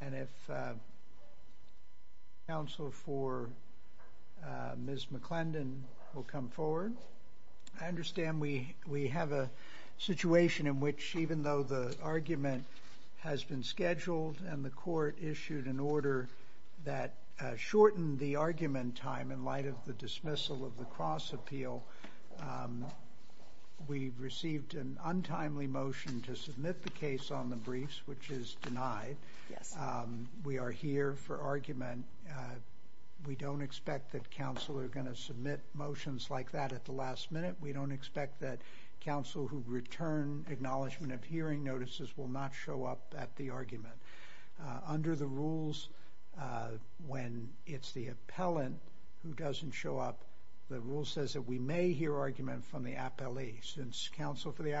and if counsel for Ms. McClendon will come forward I understand we we have a situation in which even though the argument has been scheduled and the court issued an order that shortened the argument time in light of the dismissal of the cross appeal we received an untimely motion to submit the case on the briefs which is denied we are here for argument we don't expect that counsel are going to submit motions like that at the last minute we don't expect that counsel who return acknowledgement of hearing notices will not show up at the argument under the rules when it's the appellant who doesn't show up the rule says that we may hear argument from the appellee since counsel for the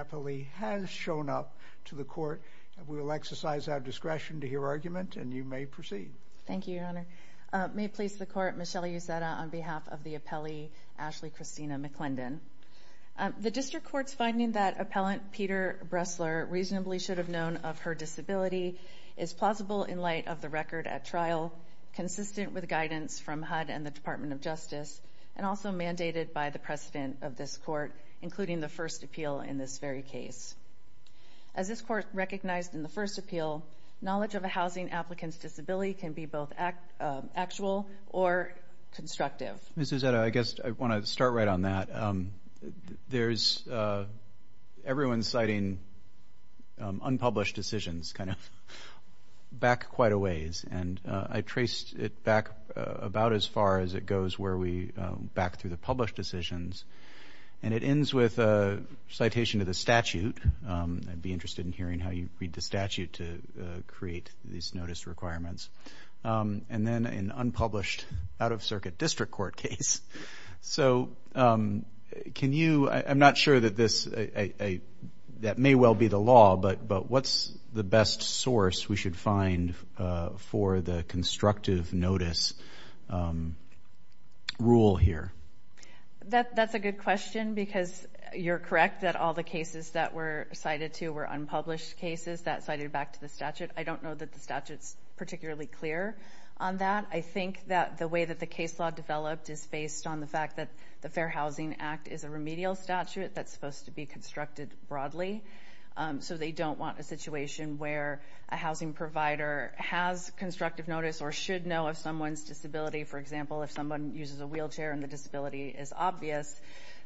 court will exercise our discretion to hear argument and you may proceed thank you may please the court Michelle use that on behalf of the appellee Ashley Christina McClendon the district court's finding that appellant Peter Bresler reasonably should have known of her disability is plausible in light of the record at trial consistent with guidance from HUD and the Department of Justice and also mandated by the precedent of this court including the first appeal in this very case as this court recognized in the first appeal knowledge of a housing applicants disability can be both act actual or constructive this is that I guess I want to start right on that there's everyone citing unpublished decisions kind of back quite a ways and I traced it back about as far as it goes where we back to the published decisions and it ends with a citation of the statute be interested in hearing how you read the statute to create these notice requirements and then in unpublished out-of-circuit district court case so can you I'm not sure that this a that may well be the law but but what's the best source we should find for the constructive notice rule here that that's a good question because you're correct that all the cases that were cited to were unpublished cases that cited back to the statute I don't know that the statutes particularly clear on that I think that the way that the case law developed is based on the fact that the Fair Housing Act is a remedial statute that's supposed to be constructed broadly so they don't want a situation where a housing provider has constructive notice or should know if someone's disability for example if someone uses a wheelchair and the disability is obvious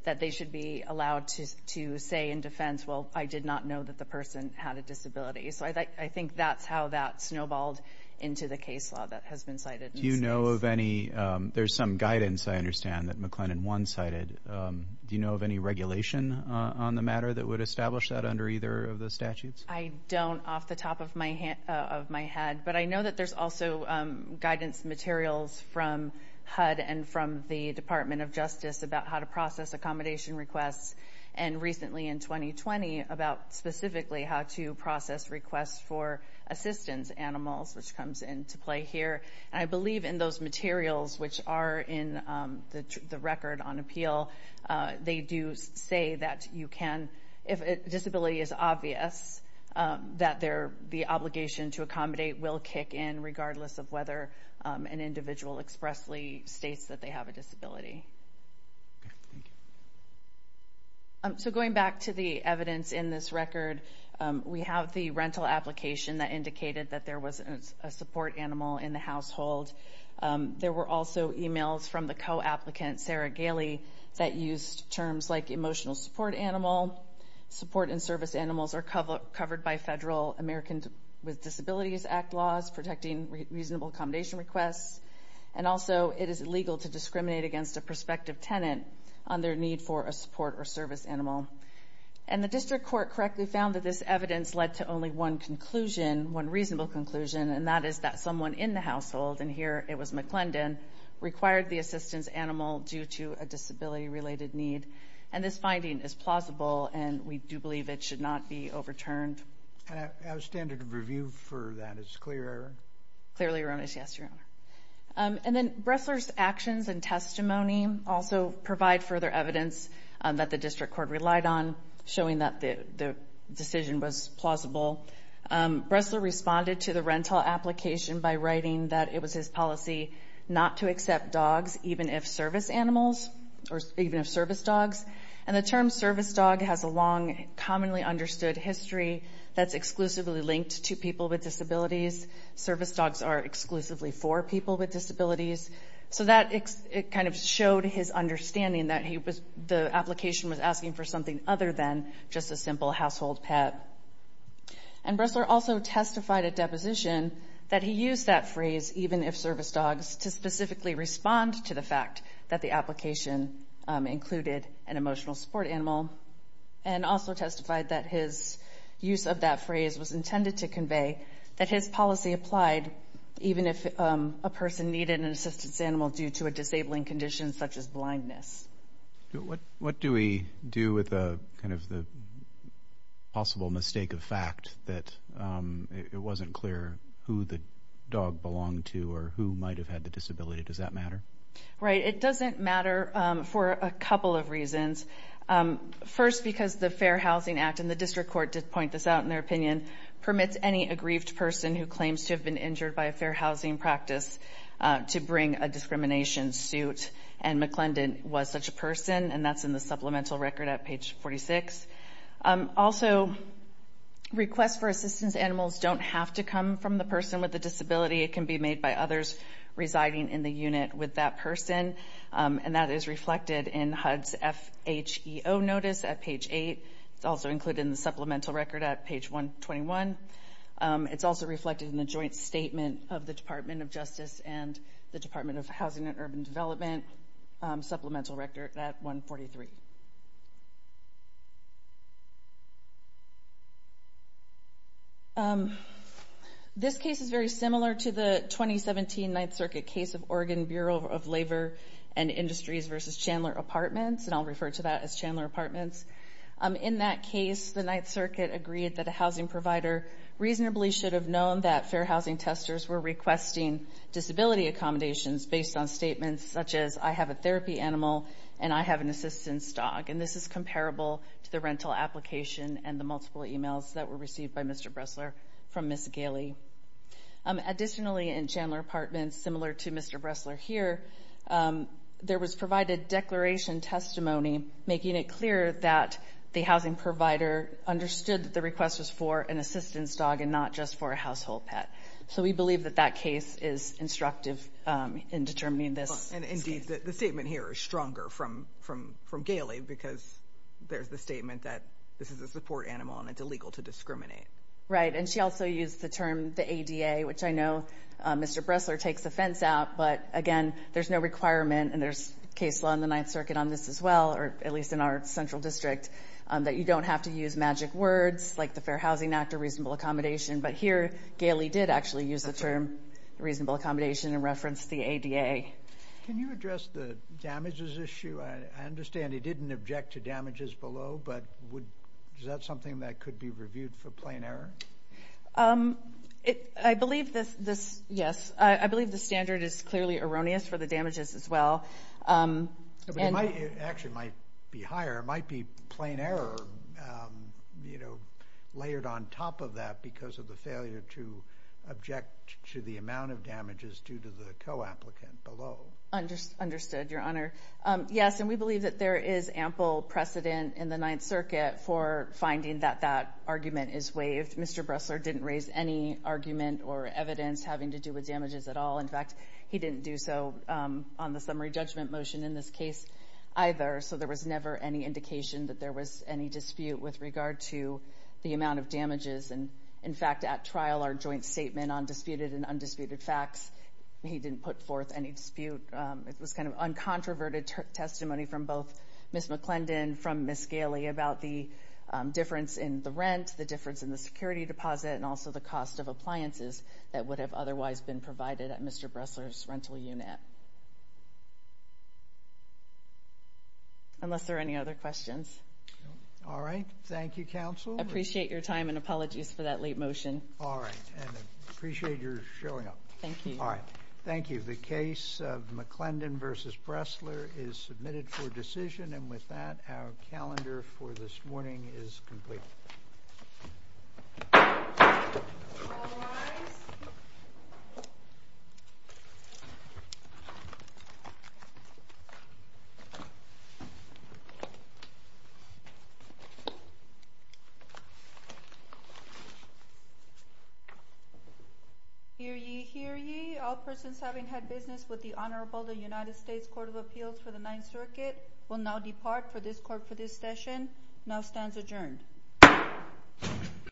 that they should be allowed to say in defense well I did not know that the person had a disability so I think that's how that snowballed into the case law that has been cited you know of any there's some guidance I understand that McLennan one-sided do you know of any regulation on the matter that would establish that under either of the statutes I don't off the top of my head of my head but I know that there's also guidance materials from HUD and from the Department of Justice about how to process accommodation requests and recently in 2020 about specifically how to process requests for assistance animals which comes into play here and I believe in those materials which are in the record on appeal they do say that you can if disability is obvious that there the obligation to accommodate will kick in regardless of whether an individual expressly states that they have a disability so going back to the evidence in this record we have the rental application that indicated that there was a support animal in the household there were also emails from the co-applicant Sarah Gailey that used terms like emotional support animal support and service animals are covered by federal Americans with Disabilities Act laws protecting reasonable accommodation requests and also it is illegal to discriminate against a prospective tenant on their need for a support or service animal and the conclusion one reasonable conclusion and that is that someone in the household and here it was McClendon required the assistance animal due to a disability related need and this finding is plausible and we do believe it should not be overturned. And a standard of review for that is clear? Clearly erroneous yes your honor and then Bressler's actions and testimony also provide further evidence that the district court relied on showing that the decision was plausible. Bressler responded to the rental application by writing that it was his policy not to accept dogs even if service animals or even if service dogs and the term service dog has a long commonly understood history that's exclusively linked to people with disabilities service dogs are exclusively for people with disabilities so that it kind of showed his understanding that he was the application was asking for something other than just a simple household pet and Bressler also testified at deposition that he used that phrase even if service dogs to specifically respond to the fact that the application included an emotional support animal and also testified that his use of that phrase was intended to convey that his policy applied even if a person needed an assistance animal due to a disabling condition such as blindness. What what do we do with the kind of the possible mistake of fact that it wasn't clear who the dog belonged to or who might have had the disability does that matter? Right it doesn't matter for a couple of reasons first because the Fair Housing Act and the district court did point this out in their opinion permits any aggrieved person who claims to have been and McClendon was such a person and that's in the supplemental record at page 46. Also requests for assistance animals don't have to come from the person with the disability it can be made by others residing in the unit with that person and that is reflected in HUD's F-H-E-O notice at page 8. It's also included in the supplemental record at page 121. It's also reflected in the joint statement of the Department of Justice and the Department of Housing and Urban Development supplemental record at 143. This case is very similar to the 2017 Ninth Circuit case of Oregon Bureau of Labor and Industries versus Chandler Apartments and I'll refer to that as Chandler Apartments. In that case the Ninth Circuit agreed that a housing provider reasonably should have known that Fair Housing testers were requesting disability accommodations based on statements such as I have a therapy animal and I have an assistance dog and this is comparable to the rental application and the multiple emails that were received by Mr. Bressler from Ms. Gailey. Additionally in Chandler Apartments similar to Mr. Bressler here there was provided declaration testimony making it clear that the housing provider understood that the request was for an assistance dog and not just for a therapy animal. So it is instructive in determining this. And indeed the statement here is stronger from from from Gailey because there's the statement that this is a support animal and it's illegal to discriminate. Right and she also used the term the ADA which I know Mr. Bressler takes offense out but again there's no requirement and there's case law in the Ninth Circuit on this as well or at least in our Central District that you don't have to use magic words like the Fair Housing Act or reasonable accommodation but here Gailey did actually use the term reasonable accommodation and reference the ADA. Can you address the damages issue? I understand he didn't object to damages below but would that something that could be reviewed for plain error? It I believe this this yes I believe the standard is clearly erroneous for the damages as well. It actually might be higher it might be plain error you know object to the amount of damages due to the co-applicant below. Understood your honor. Yes and we believe that there is ample precedent in the Ninth Circuit for finding that that argument is waived. Mr. Bressler didn't raise any argument or evidence having to do with damages at all in fact he didn't do so on the summary judgment motion in this case either so there was never any indication that there was any dispute with regard to the amount of damages and in fact at trial our joint statement on disputed and undisputed facts he didn't put forth any dispute it was kind of uncontroverted testimony from both Ms. McClendon from Ms. Gailey about the difference in the rent the difference in the security deposit and also the cost of appliances that would have otherwise been provided at Mr. Bressler's rental unit. Unless there are any other questions. All right thank you counsel. Appreciate your time and apologies for that late motion. All right and appreciate your showing up. Thank you. All right thank you the case of McClendon versus Bressler is submitted for decision and with that our calendar for this morning is complete. Hear ye, hear ye. All persons having had business with the Honorable the United States Court of Appeals for the Ninth Circuit will now depart for this court for this session. Now stands adjourned.